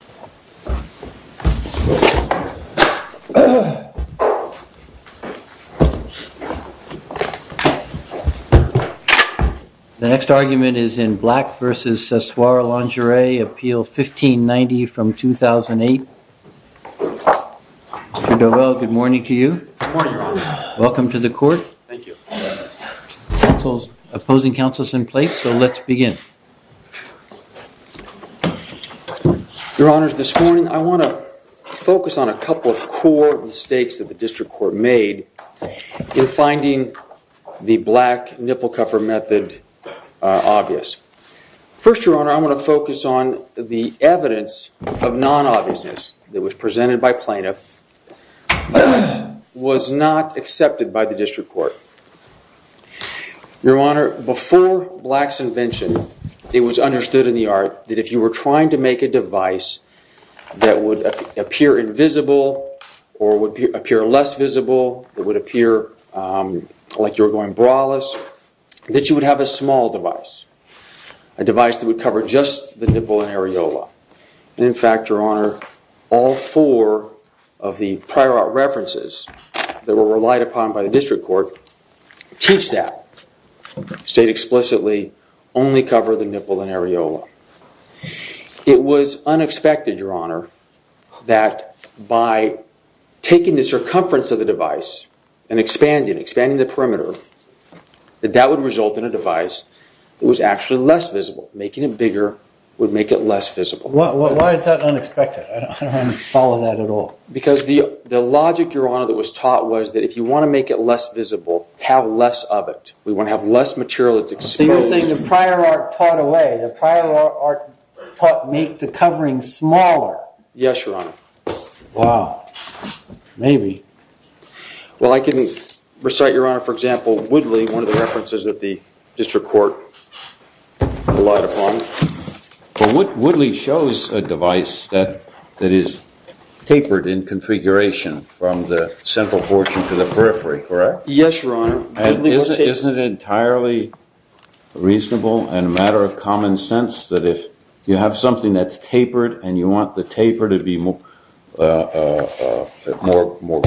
Appeal 1590-2008 The next argument is in Black v. CE Soir Lingerie, Appeal 1590-2008. Good morning to you. Welcome to the court. Thank you. Opposing counsel is in place, so let's begin. Your Honor, this morning I want to focus on a couple of core mistakes that the District Court made in finding the Black nipple cover method obvious. First, Your Honor, I want to focus on the evidence of non-obviousness that was presented by plaintiff that was not accepted by the District Court. Your Honor, before Black's invention, it was understood in the art that if you were trying to make a device that would appear invisible or would appear less visible, it would appear like you were going braless, that you would have a small device, a device that would cover just the nipple and areola. In fact, Your Honor, all four of the prior art references that were relied upon by the District Court teach that, state explicitly only cover the nipple and areola. It was unexpected, Your Honor, that by taking the circumference of the device and expanding the perimeter, that that would result in a device that was actually less visible. Making it bigger would make it less visible. Why is that unexpected? I don't follow that at all. Because the logic, Your Honor, that was taught was that if you want to make it less visible, have less of it. We want to have less material that's exposed. So you're saying the prior art taught away, the prior art taught make the covering smaller. Yes, Your Honor. Wow. Maybe. Well, I can recite, Your Honor, for example, Woodley, one of the references that the District Court relied upon. Woodley shows a device that is tapered in configuration from the central portion to the periphery, correct? Yes, Your Honor. Isn't it entirely reasonable and a matter of common sense that if you have something that's tapered and you want the taper to be more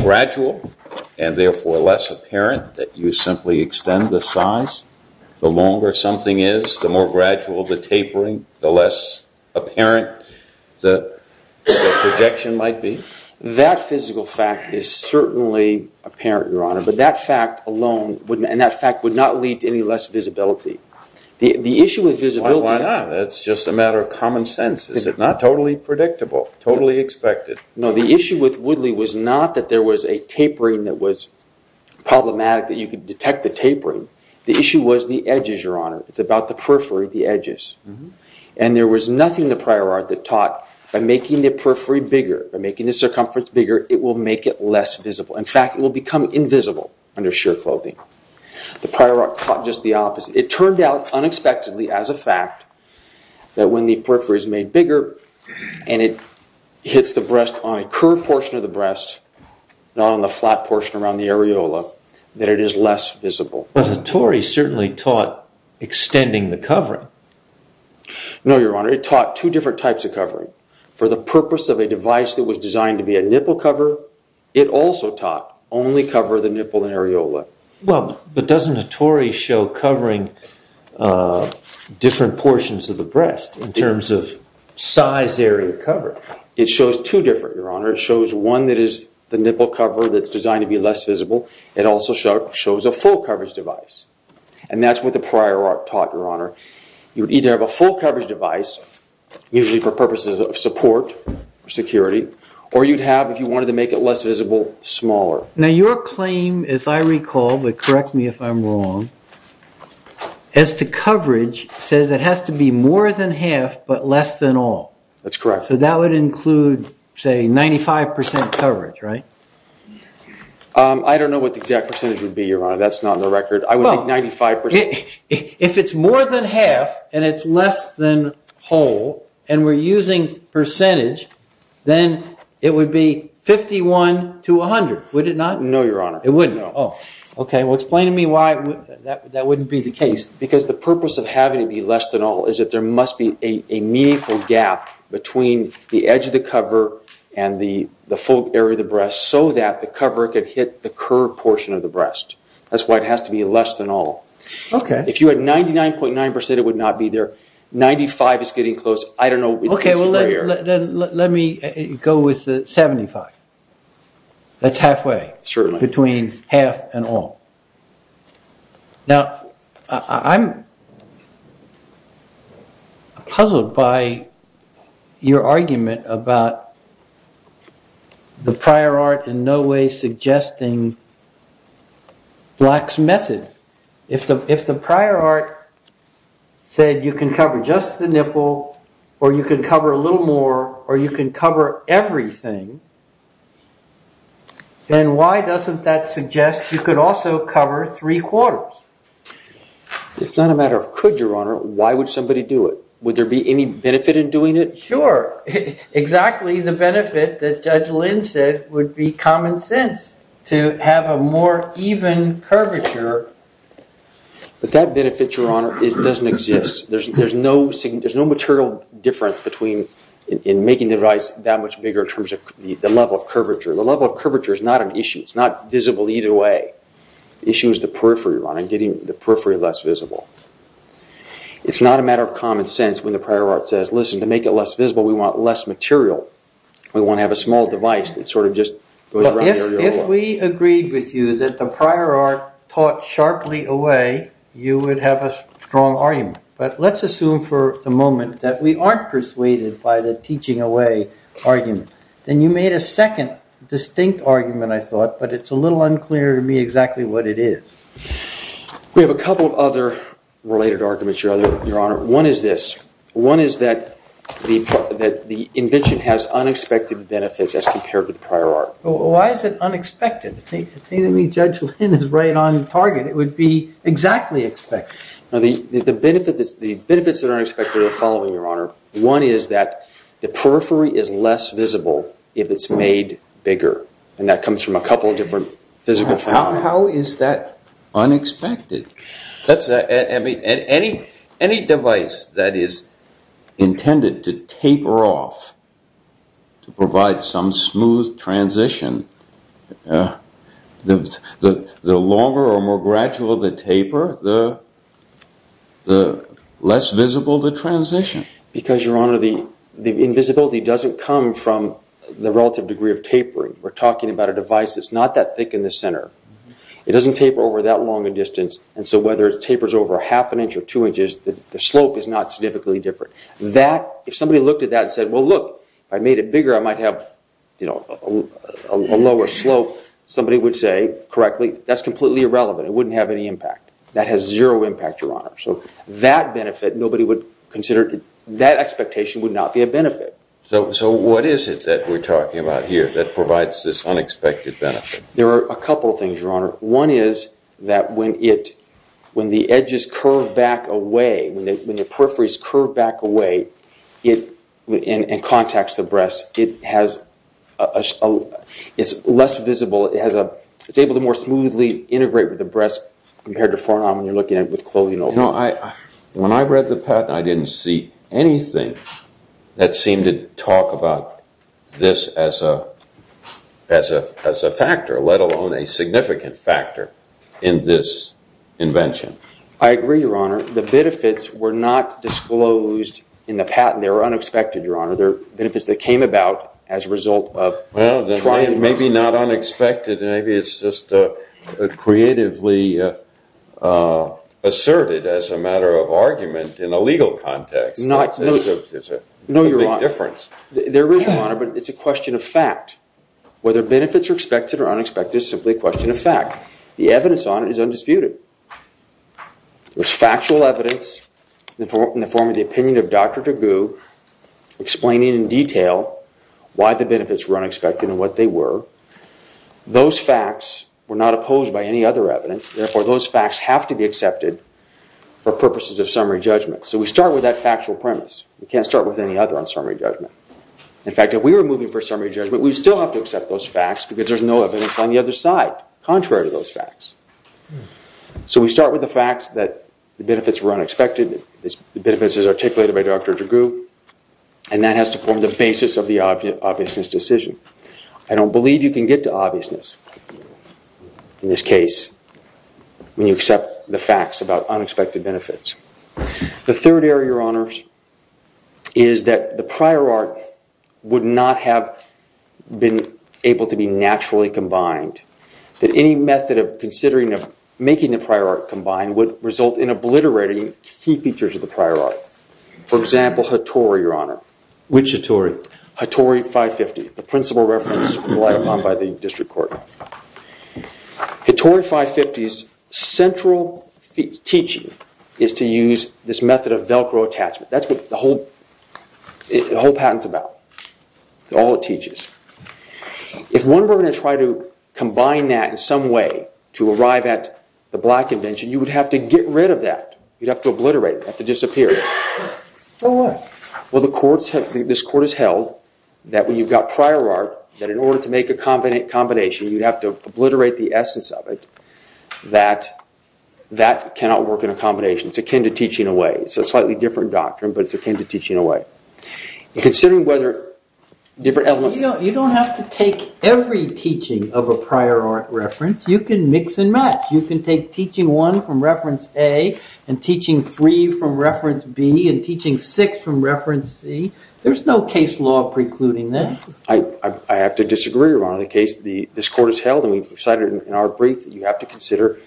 gradual and therefore less apparent, that you simply extend the size? The longer something is, the more gradual the tapering, the less apparent the projection might be? That physical fact is certainly apparent, Your Honor, but that fact alone, and that fact would not lead to any less visibility. Why not? That's just a matter of common sense, isn't it? Not totally predictable, totally expected. No, the issue with Woodley was not that there was a tapering that was problematic, that you could detect the tapering. The issue was the edges, Your Honor. It's about the periphery, the edges. And there was nothing in the prior art that taught by making the periphery bigger, by making the circumference bigger, it will make it less visible. In fact, it will become invisible under sheer clothing. The prior art taught just the opposite. It turned out unexpectedly as a fact that when the periphery is made bigger and it hits the breast on a curved portion of the breast, not on the flat portion around the areola, that it is less visible. But Hattori certainly taught extending the covering. No, Your Honor, it taught two different types of covering. For the purpose of a device that was designed to be a nipple cover, it also taught only cover the nipple and areola. Well, but doesn't Hattori show covering different portions of the breast in terms of size, area, cover? It shows two different, Your Honor. It shows one that is the nipple cover that's designed to be less visible. It also shows a full coverage device. And that's what the prior art taught, Your Honor. You would either have a full coverage device, usually for purposes of support or security, or you'd have, if you wanted to make it less visible, smaller. Now, your claim, as I recall, but correct me if I'm wrong, as to coverage, says it has to be more than half but less than all. That's correct. So that would include, say, 95% coverage, right? I don't know what the exact percentage would be, Your Honor. That's not in the record. I would think 95%. If it's more than half and it's less than whole and we're using percentage, then it would be 51 to 100, would it not? No, Your Honor. It wouldn't? No. Oh, OK. Well, explain to me why that wouldn't be the case. Because the purpose of having it be less than all is that there must be a meaningful gap between the edge of the cover and the full area of the breast so that the cover could hit the curved portion of the breast. That's why it has to be less than all. OK. If you had 99.9%, it would not be there. 95% is getting close. I don't know. OK, well, let me go with 75%. That's halfway. Certainly. Between half and all. Now, I'm puzzled by your argument about the prior art in no way suggesting Black's method. If the prior art said you can cover just the nipple or you can cover a little more or you can cover everything, then why doesn't that suggest you could also cover three quarters? It's not a matter of could, Your Honor. Why would somebody do it? Would there be any benefit in doing it? Sure. Exactly the benefit that Judge Lynn said would be common sense to have a more even curvature. But that benefit, Your Honor, doesn't exist. There's no material difference between making the device that much bigger in terms of the level of curvature. The level of curvature is not an issue. It's not visible either way. The issue is the periphery, Your Honor, and getting the periphery less visible. It's not a matter of common sense when the prior art says, listen, to make it less visible we want less material. We want to have a small device that sort of just goes around the area. If we agreed with you that the prior art taught sharply away, you would have a strong argument. But let's assume for the moment that we aren't persuaded by the teaching away argument. Then you made a second distinct argument, I thought, but it's a little unclear to me exactly what it is. We have a couple of other related arguments, Your Honor. One is this. One is that the invention has unexpected benefits as compared to the prior art. Why is it unexpected? It seems to me Judge Lynn is right on target. It would be exactly expected. The benefits that are unexpected are the following, Your Honor. One is that the periphery is less visible if it's made bigger. And that comes from a couple of different physical phenomena. How is that unexpected? Any device that is intended to taper off to provide some smooth transition, the longer or more gradual the taper, the less visible the transition. Because, Your Honor, the invisibility doesn't come from the relative degree of tapering. We're talking about a device that's not that thick in the center. It doesn't taper over that long a distance. And so whether it tapers over half an inch or two inches, the slope is not significantly different. If somebody looked at that and said, well, look, I made it bigger, I might have a lower slope, somebody would say, correctly, that's completely irrelevant. It wouldn't have any impact. That has zero impact, Your Honor. So what is it that we're talking about here that provides this unexpected benefit? There are a couple of things, Your Honor. One is that when the edges curve back away, when the peripheries curve back away and contacts the breast, it's less visible. It's able to more smoothly integrate with the breast compared to forearm when you're looking at it with clothing over it. When I read the patent, I didn't see anything that seemed to talk about this as a factor, let alone a significant factor, in this invention. I agree, Your Honor. The benefits were not disclosed in the patent. They were unexpected, Your Honor. Maybe not unexpected, maybe it's just creatively asserted as a matter of argument in a legal context. No, Your Honor. There's a big difference. There is, Your Honor, but it's a question of fact. Whether benefits are expected or unexpected is simply a question of fact. The evidence on it is undisputed. There's factual evidence in the form of the opinion of Dr. DeGue explaining in detail why the benefits were unexpected and what they were. Those facts were not opposed by any other evidence. Therefore, those facts have to be accepted for purposes of summary judgment. So we start with that factual premise. We can't start with any other on summary judgment. In fact, if we were moving for summary judgment, we'd still have to accept those facts because there's no evidence on the other side contrary to those facts. So we start with the facts that the benefits were unexpected. The benefits as articulated by Dr. DeGue. And that has to form the basis of the obviousness decision. I don't believe you can get to obviousness in this case when you accept the facts about unexpected benefits. The third area, Your Honors, is that the prior art would not have been able to be naturally combined. That any method of considering making the prior art combine would result in obliterating key features of the prior art. For example, Hattori, Your Honor. Which Hattori? Hattori 550, the principal reference relied upon by the district court. Hattori 550's central teaching is to use this method of Velcro attachment. That's what the whole patent is about. That's all it teaches. If one were going to try to combine that in some way to arrive at the black invention, you would have to get rid of that. You'd have to obliterate it. You'd have to disappear it. So what? Well, this court has held that when you've got prior art, that in order to make a combination, you'd have to obliterate the essence of it. That cannot work in a combination. It's akin to teaching away. It's a slightly different doctrine, but it's akin to teaching away. Considering whether different elements... You don't have to take every teaching of a prior art reference. You can mix and match. You can take teaching one from reference A and teaching three from reference B and teaching six from reference C. There's no case law precluding that. I have to disagree, Your Honor. In the case this court has held, and we've cited in our brief, that you have to consider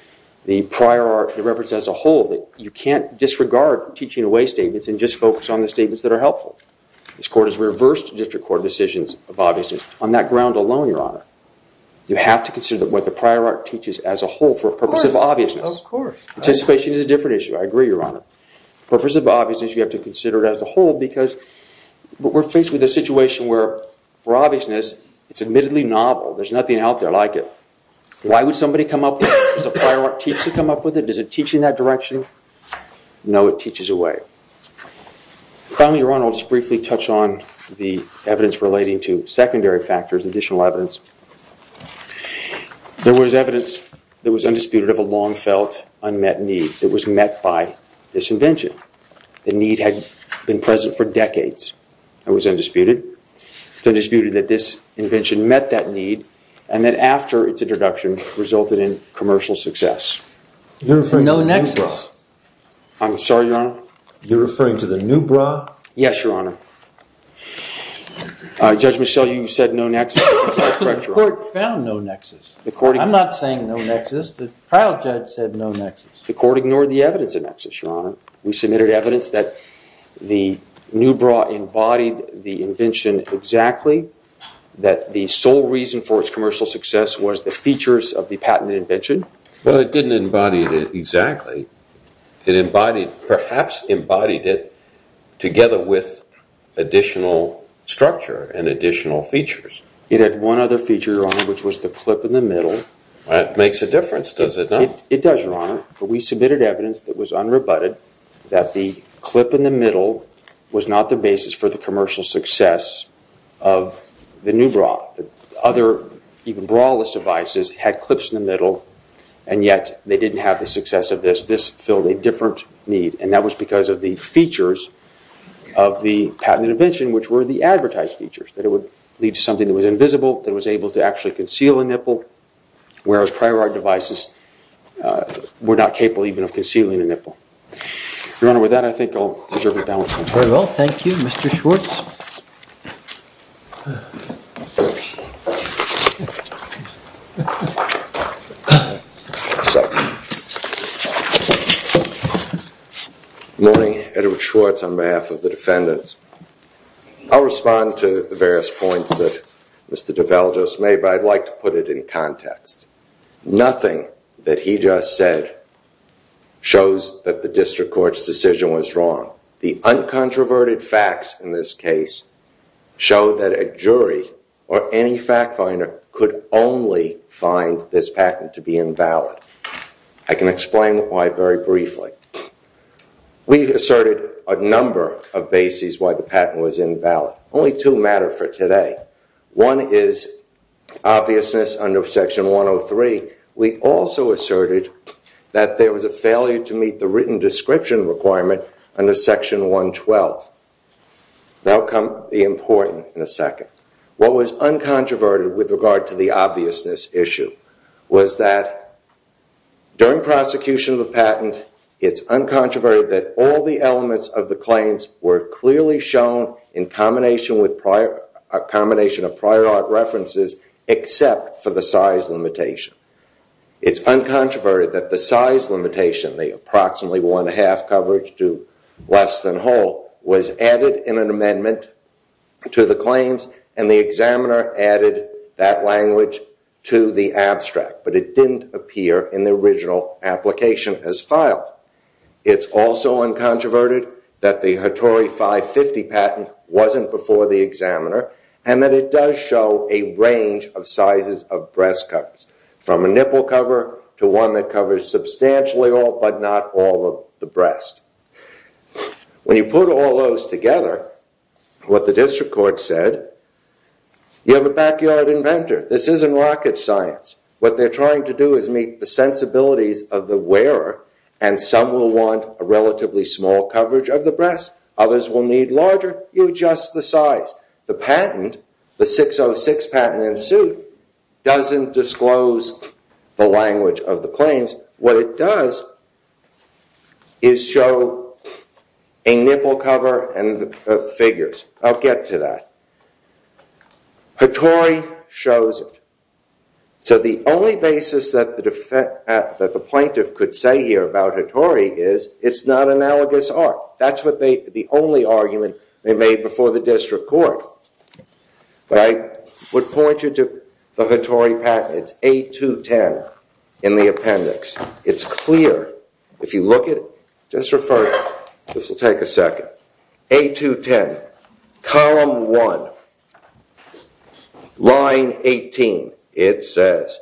the prior art reference as a whole. You can't disregard teaching away statements and just focus on the statements that are helpful. This court has reversed district court decisions of obviousness on that ground alone, Your Honor. You have to consider what the prior art teaches as a whole for purposes of obviousness. Of course. Anticipation is a different issue. I agree, Your Honor. For purposes of obviousness, you have to consider it as a whole because we're faced with a situation where, for obviousness, it's admittedly novel. There's nothing out there like it. Why would somebody come up with it? Does a prior art teach to come up with it? Does it teach in that direction? No, it teaches away. Finally, Your Honor, I'll just briefly touch on the evidence relating to secondary factors, additional evidence. There was evidence that was undisputed of a long-felt, unmet need that was met by this invention. The need had been present for decades. It was undisputed. It's undisputed that this invention met that need and that after its introduction resulted in commercial success. You're referring to Nubra. No nexus. I'm sorry, Your Honor? You're referring to the Nubra? Yes, Your Honor. Judge Michel, you said no nexus. That's correct, Your Honor. The court found no nexus. I'm not saying no nexus. The trial judge said no nexus. The court ignored the evidence of nexus, Your Honor. We submitted evidence that the Nubra embodied the invention exactly, that the sole reason for its commercial success was the features of the patented invention. Well, it didn't embody it exactly. It perhaps embodied it together with additional structure and additional features. It had one other feature, Your Honor, which was the clip in the middle. That makes a difference, does it not? It does, Your Honor. We submitted evidence that was unrebutted that the clip in the middle was not the basis for the commercial success of the Nubra. Other, even brawless devices, had clips in the middle, and yet they didn't have the success of this. This filled a different need, and that was because of the features of the patented invention, which were the advertised features, that it would lead to something that was invisible, that it was able to actually conceal a nipple, whereas prior art devices were not capable even of concealing a nipple. Your Honor, with that, I think I'll reserve the balance. Very well, thank you. Mr. Schwartz? Morning. Edward Schwartz on behalf of the defendants. I'll respond to the various points that Mr. DeBell just made, but I'd like to put it in context. Nothing that he just said shows that the district court's decision was wrong. The uncontroverted facts in this case show that a jury or any fact finder could only find this patent to be invalid. I can explain why very briefly. We've asserted a number of bases why the patent was invalid. Only two matter for today. One is obviousness under Section 103. We also asserted that there was a failure to meet the written description requirement under Section 112. That will become important in a second. What was uncontroverted with regard to the obviousness issue was that during prosecution of the patent, it's uncontroverted that all the elements of the claims were clearly shown in combination of prior art references except for the size limitation. It's uncontroverted that the size limitation, the approximately one half coverage to less than whole, was added in an amendment to the claims and the examiner added that language to the abstract, but it didn't appear in the original application as filed. It's also uncontroverted that the Hattori 550 patent wasn't before the examiner and that it does show a range of sizes of breast covers. From a nipple cover to one that covers substantially all but not all of the breast. When you put all those together, what the district court said, you have a backyard inventor. This isn't rocket science. What they're trying to do is meet the sensibilities of the wearer and some will want a relatively small coverage of the breast. Others will need larger. You adjust the size. The patent, the 606 patent in suit, doesn't disclose the language of the claims. What it does is show a nipple cover and figures. I'll get to that. Hattori shows it. So the only basis that the plaintiff could say here about Hattori is it's not analogous art. That's the only argument they made before the district court. I would point you to the Hattori patent. It's 8-2-10 in the appendix. It's clear. If you look at it, just refer to it. This will take a second. 8-2-10, column 1, line 18. It says,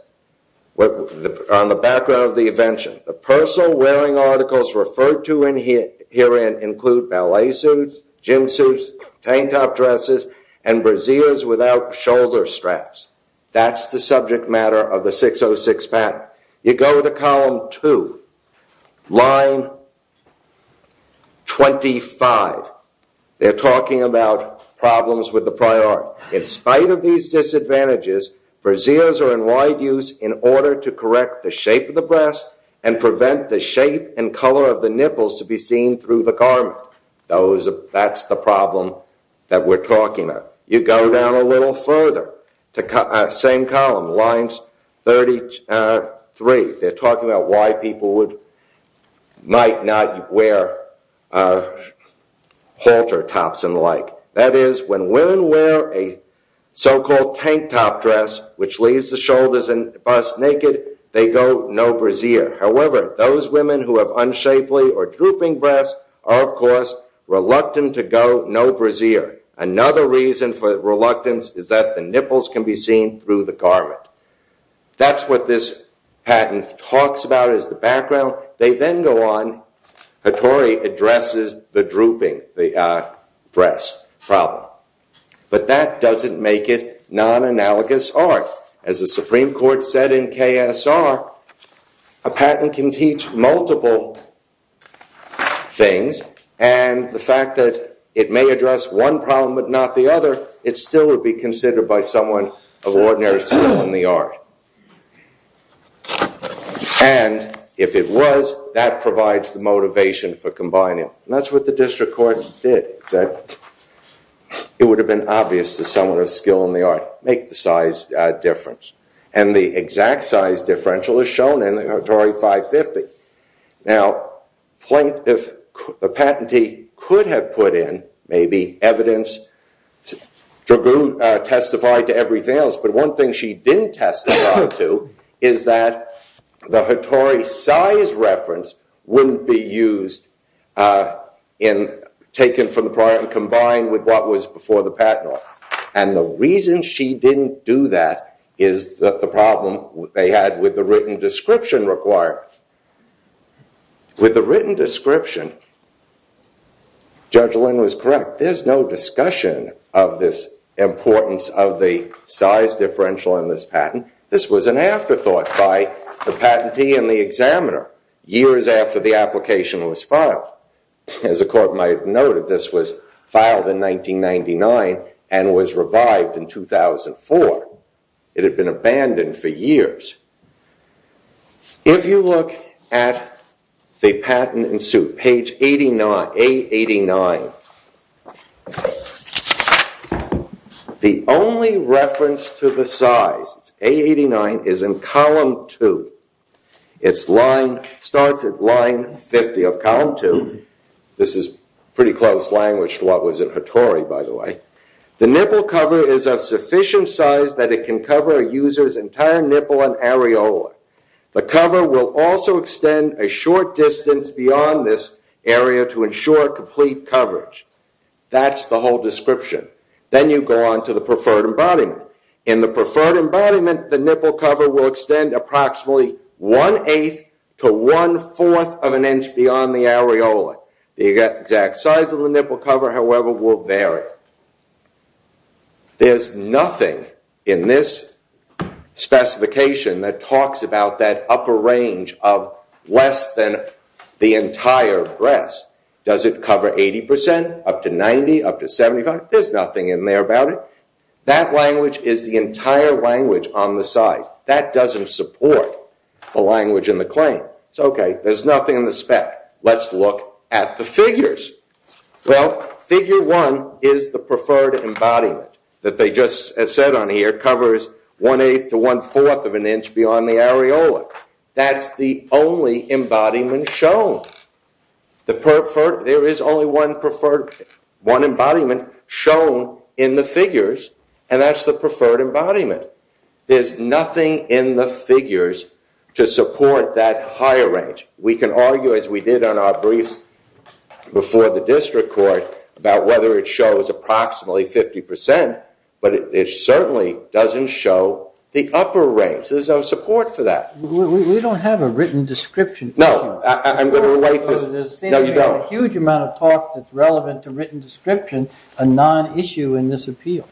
on the background of the invention, the personal wearing articles referred to herein include ballet suits, gym suits, tank top dresses, and brassieres without shoulder straps. That's the subject matter of the 606 patent. You go to column 2, line 25. They're talking about problems with the prior art. In spite of these disadvantages, brassieres are in wide use in order to correct the shape of the breast and prevent the shape and color of the nipples to be seen through the garment. That's the problem that we're talking about. You go down a little further, same column, lines 33. They're talking about why people might not wear halter tops and the like. That is, when women wear a so-called tank top dress, which leaves the shoulders and bust naked, they go no brassiere. However, those women who have unshapely or drooping breasts are, of course, reluctant to go no brassiere. Another reason for reluctance is that the nipples can be seen through the garment. That's what this patent talks about as the background. They then go on. Hattori addresses the drooping breast problem. But that doesn't make it non-analogous art. As the Supreme Court said in KSR, a patent can teach multiple things, and the fact that it may address one problem but not the other, it still would be considered by someone of ordinary skill in the art. If it was, that provides the motivation for combining. That's what the district court did. It would have been obvious to someone of skill in the art, make the size difference. And the exact size differential is shown in the Hattori 550. Now, a patentee could have put in maybe evidence, Dragoo testified to everything else, but one thing she didn't testify to is that the Hattori size reference wouldn't be used, taken from the prior and combined with what was before the patent office. And the reason she didn't do that is the problem they had with the written description required. With the written description, Judge Lynn was correct. There's no discussion of this importance of the size differential in this patent. This was an afterthought by the patentee and the examiner, years after the application was filed. As the court might have noted, this was filed in 1999 and was revived in 2004. It had been abandoned for years. If you look at the patent in suit, page 89, A89, the only reference to the size, A89, is in column 2. It starts at line 50 of column 2. This is pretty close language to what was in Hattori, by the way. The nipple cover is of sufficient size that it can cover a user's entire nipple and areola. The cover will also extend a short distance beyond this area to ensure complete coverage. That's the whole description. Then you go on to the preferred embodiment. In the preferred embodiment, the nipple cover will extend approximately one-eighth to one-fourth of an inch beyond the areola. The exact size of the nipple cover, however, will vary. There's nothing in this specification that talks about that upper range of less than the entire breast. Does it cover 80 percent, up to 90, up to 75? There's nothing in there about it. That language is the entire language on the size. That doesn't support the language in the claim. It's okay. There's nothing in the spec. Let's look at the figures. Well, figure 1 is the preferred embodiment that they just, as said on here, covers one-eighth to one-fourth of an inch beyond the areola. That's the only embodiment shown. There is only one preferred embodiment shown in the figures, and that's the preferred embodiment. There's nothing in the figures to support that higher range. We can argue, as we did on our briefs before the district court, about whether it shows approximately 50 percent, but it certainly doesn't show the upper range. There's no support for that. We don't have a written description. No. I'm going to wait. No, you don't. There seems to be a huge amount of talk that's relevant to written description, a non-issue in this appeal.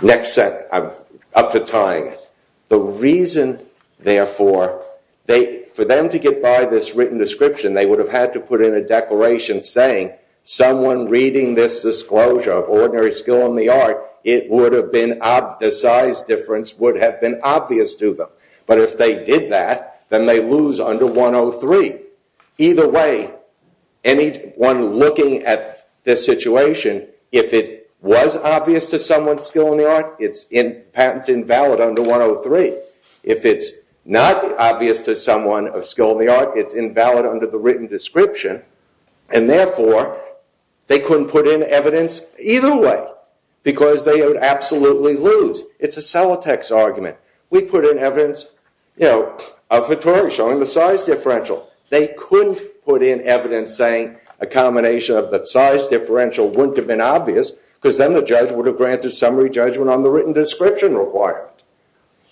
Next set. I'm up to tying it. The reason, therefore, for them to get by this written description, they would have had to put in a declaration saying, someone reading this disclosure of ordinary skill in the art, the size difference would have been obvious to them. But if they did that, then they'd lose under 103. Either way, anyone looking at this situation, if it was obvious to someone's skill in the art, it's invalid under 103. If it's not obvious to someone of skill in the art, it's invalid under the written description, and, therefore, they couldn't put in evidence either way because they would absolutely lose. It's a Sellotex argument. We put in evidence of Hattori showing the size differential. They couldn't put in evidence saying a combination of the size differential wouldn't have been obvious because then the judge would have granted summary judgment on the written description requirement.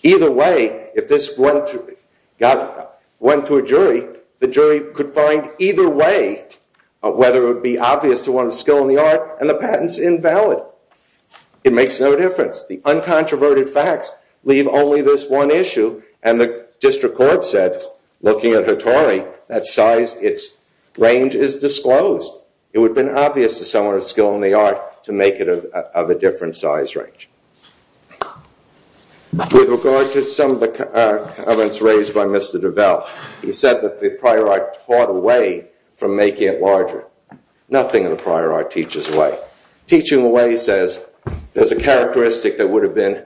Either way, if this went to a jury, the jury could find either way whether it would be obvious to one of skill in the art and the patent's invalid. It makes no difference. The uncontroverted facts leave only this one issue, and the district court said, looking at Hattori, that size, its range is disclosed. It would have been obvious to someone of skill in the art to make it of a different size range. With regard to some of the comments raised by Mr. DeVell, he said that the prior art taught away from making it larger. Nothing in the prior art teaches away. Teaching away says there's a characteristic that would have been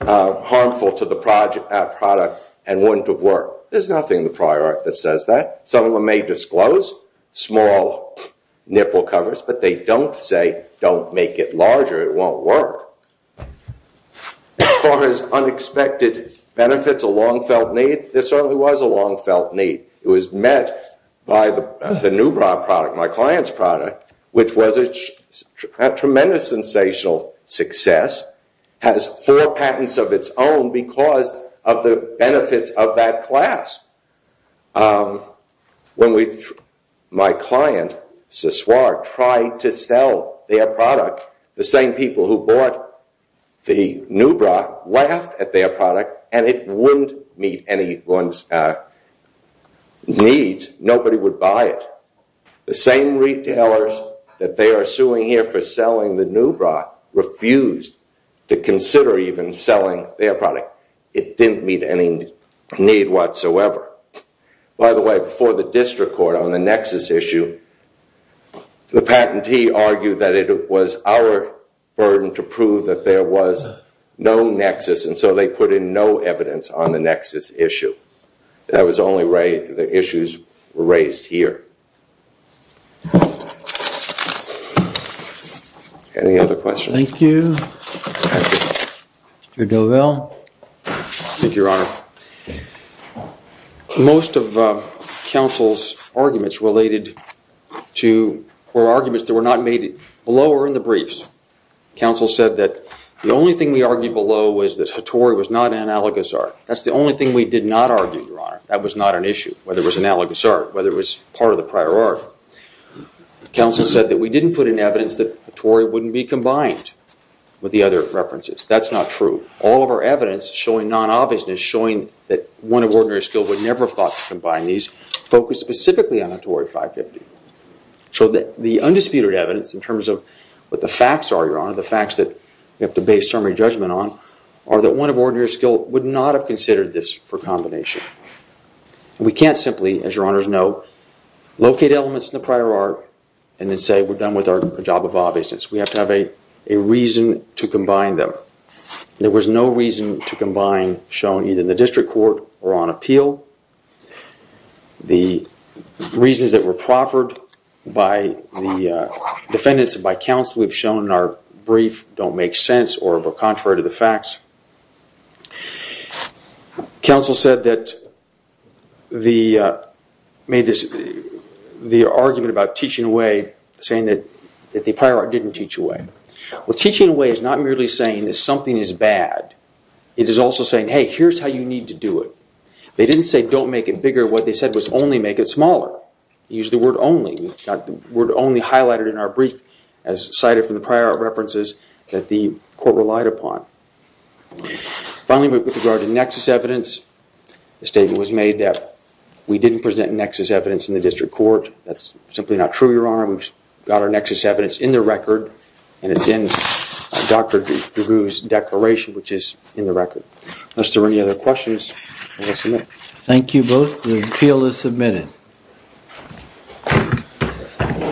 harmful to the product and wouldn't have worked. There's nothing in the prior art that says that. Some of them may disclose small nipple covers, but they don't say don't make it larger. It won't work. As far as unexpected benefits, a long-felt need, there certainly was a long-felt need. It was met by the new product, my client's product, which was a tremendous sensational success, has four patents of its own because of the benefits of that class. When my client, Siswar, tried to sell their product, the same people who bought the Nubra laughed at their product, and it wouldn't meet anyone's needs. Nobody would buy it. The same retailers that they are suing here for selling the Nubra refused to consider even selling their product. It didn't meet any need whatsoever. By the way, before the district court on the nexus issue, the patentee argued that it was our burden to prove that there was no nexus, and so they put in no evidence on the nexus issue. That was the only way the issues were raised here. Any other questions? Thank you. Thank you, Your Honor. Most of counsel's arguments were arguments that were not made below or in the briefs. Counsel said that the only thing we argued below was that Hattori was not analogous art. That's the only thing we did not argue, Your Honor. That was not an issue, whether it was analogous art, whether it was part of the prior art. Counsel said that we didn't put in evidence that Hattori wouldn't be combined with the other references. That's not true. All of our evidence showing non-obviousness, showing that one of ordinary skill would never have thought to combine these, focused specifically on Hattori 550. So the undisputed evidence in terms of what the facts are, Your Honor, the facts that we have to base summary judgment on, are that one of ordinary skill would not have considered this for combination. We can't simply, as Your Honor's know, locate elements in the prior art and then say we're done with our job of obviousness. We have to have a reason to combine them. There was no reason to combine shown either in the district court or on appeal. The reasons that were proffered by the defendants and by counsel we've shown in our brief don't make sense or are contrary to the facts. Counsel said that the argument about teaching away, saying that the prior art didn't teach away. Well, teaching away is not merely saying that something is bad. It is also saying, hey, here's how you need to do it. They didn't say don't make it bigger. What they said was only make it smaller. They used the word only. The word only highlighted in our brief as cited from the prior art references that the court relied upon. Finally, with regard to nexus evidence, the statement was made that we didn't present nexus evidence in the district court. That's simply not true, Your Honor. We've got our nexus evidence in the record and it's in Dr. DeRue's declaration which is in the record. Unless there are any other questions, I will submit. Thank you both. The appeal is submitted.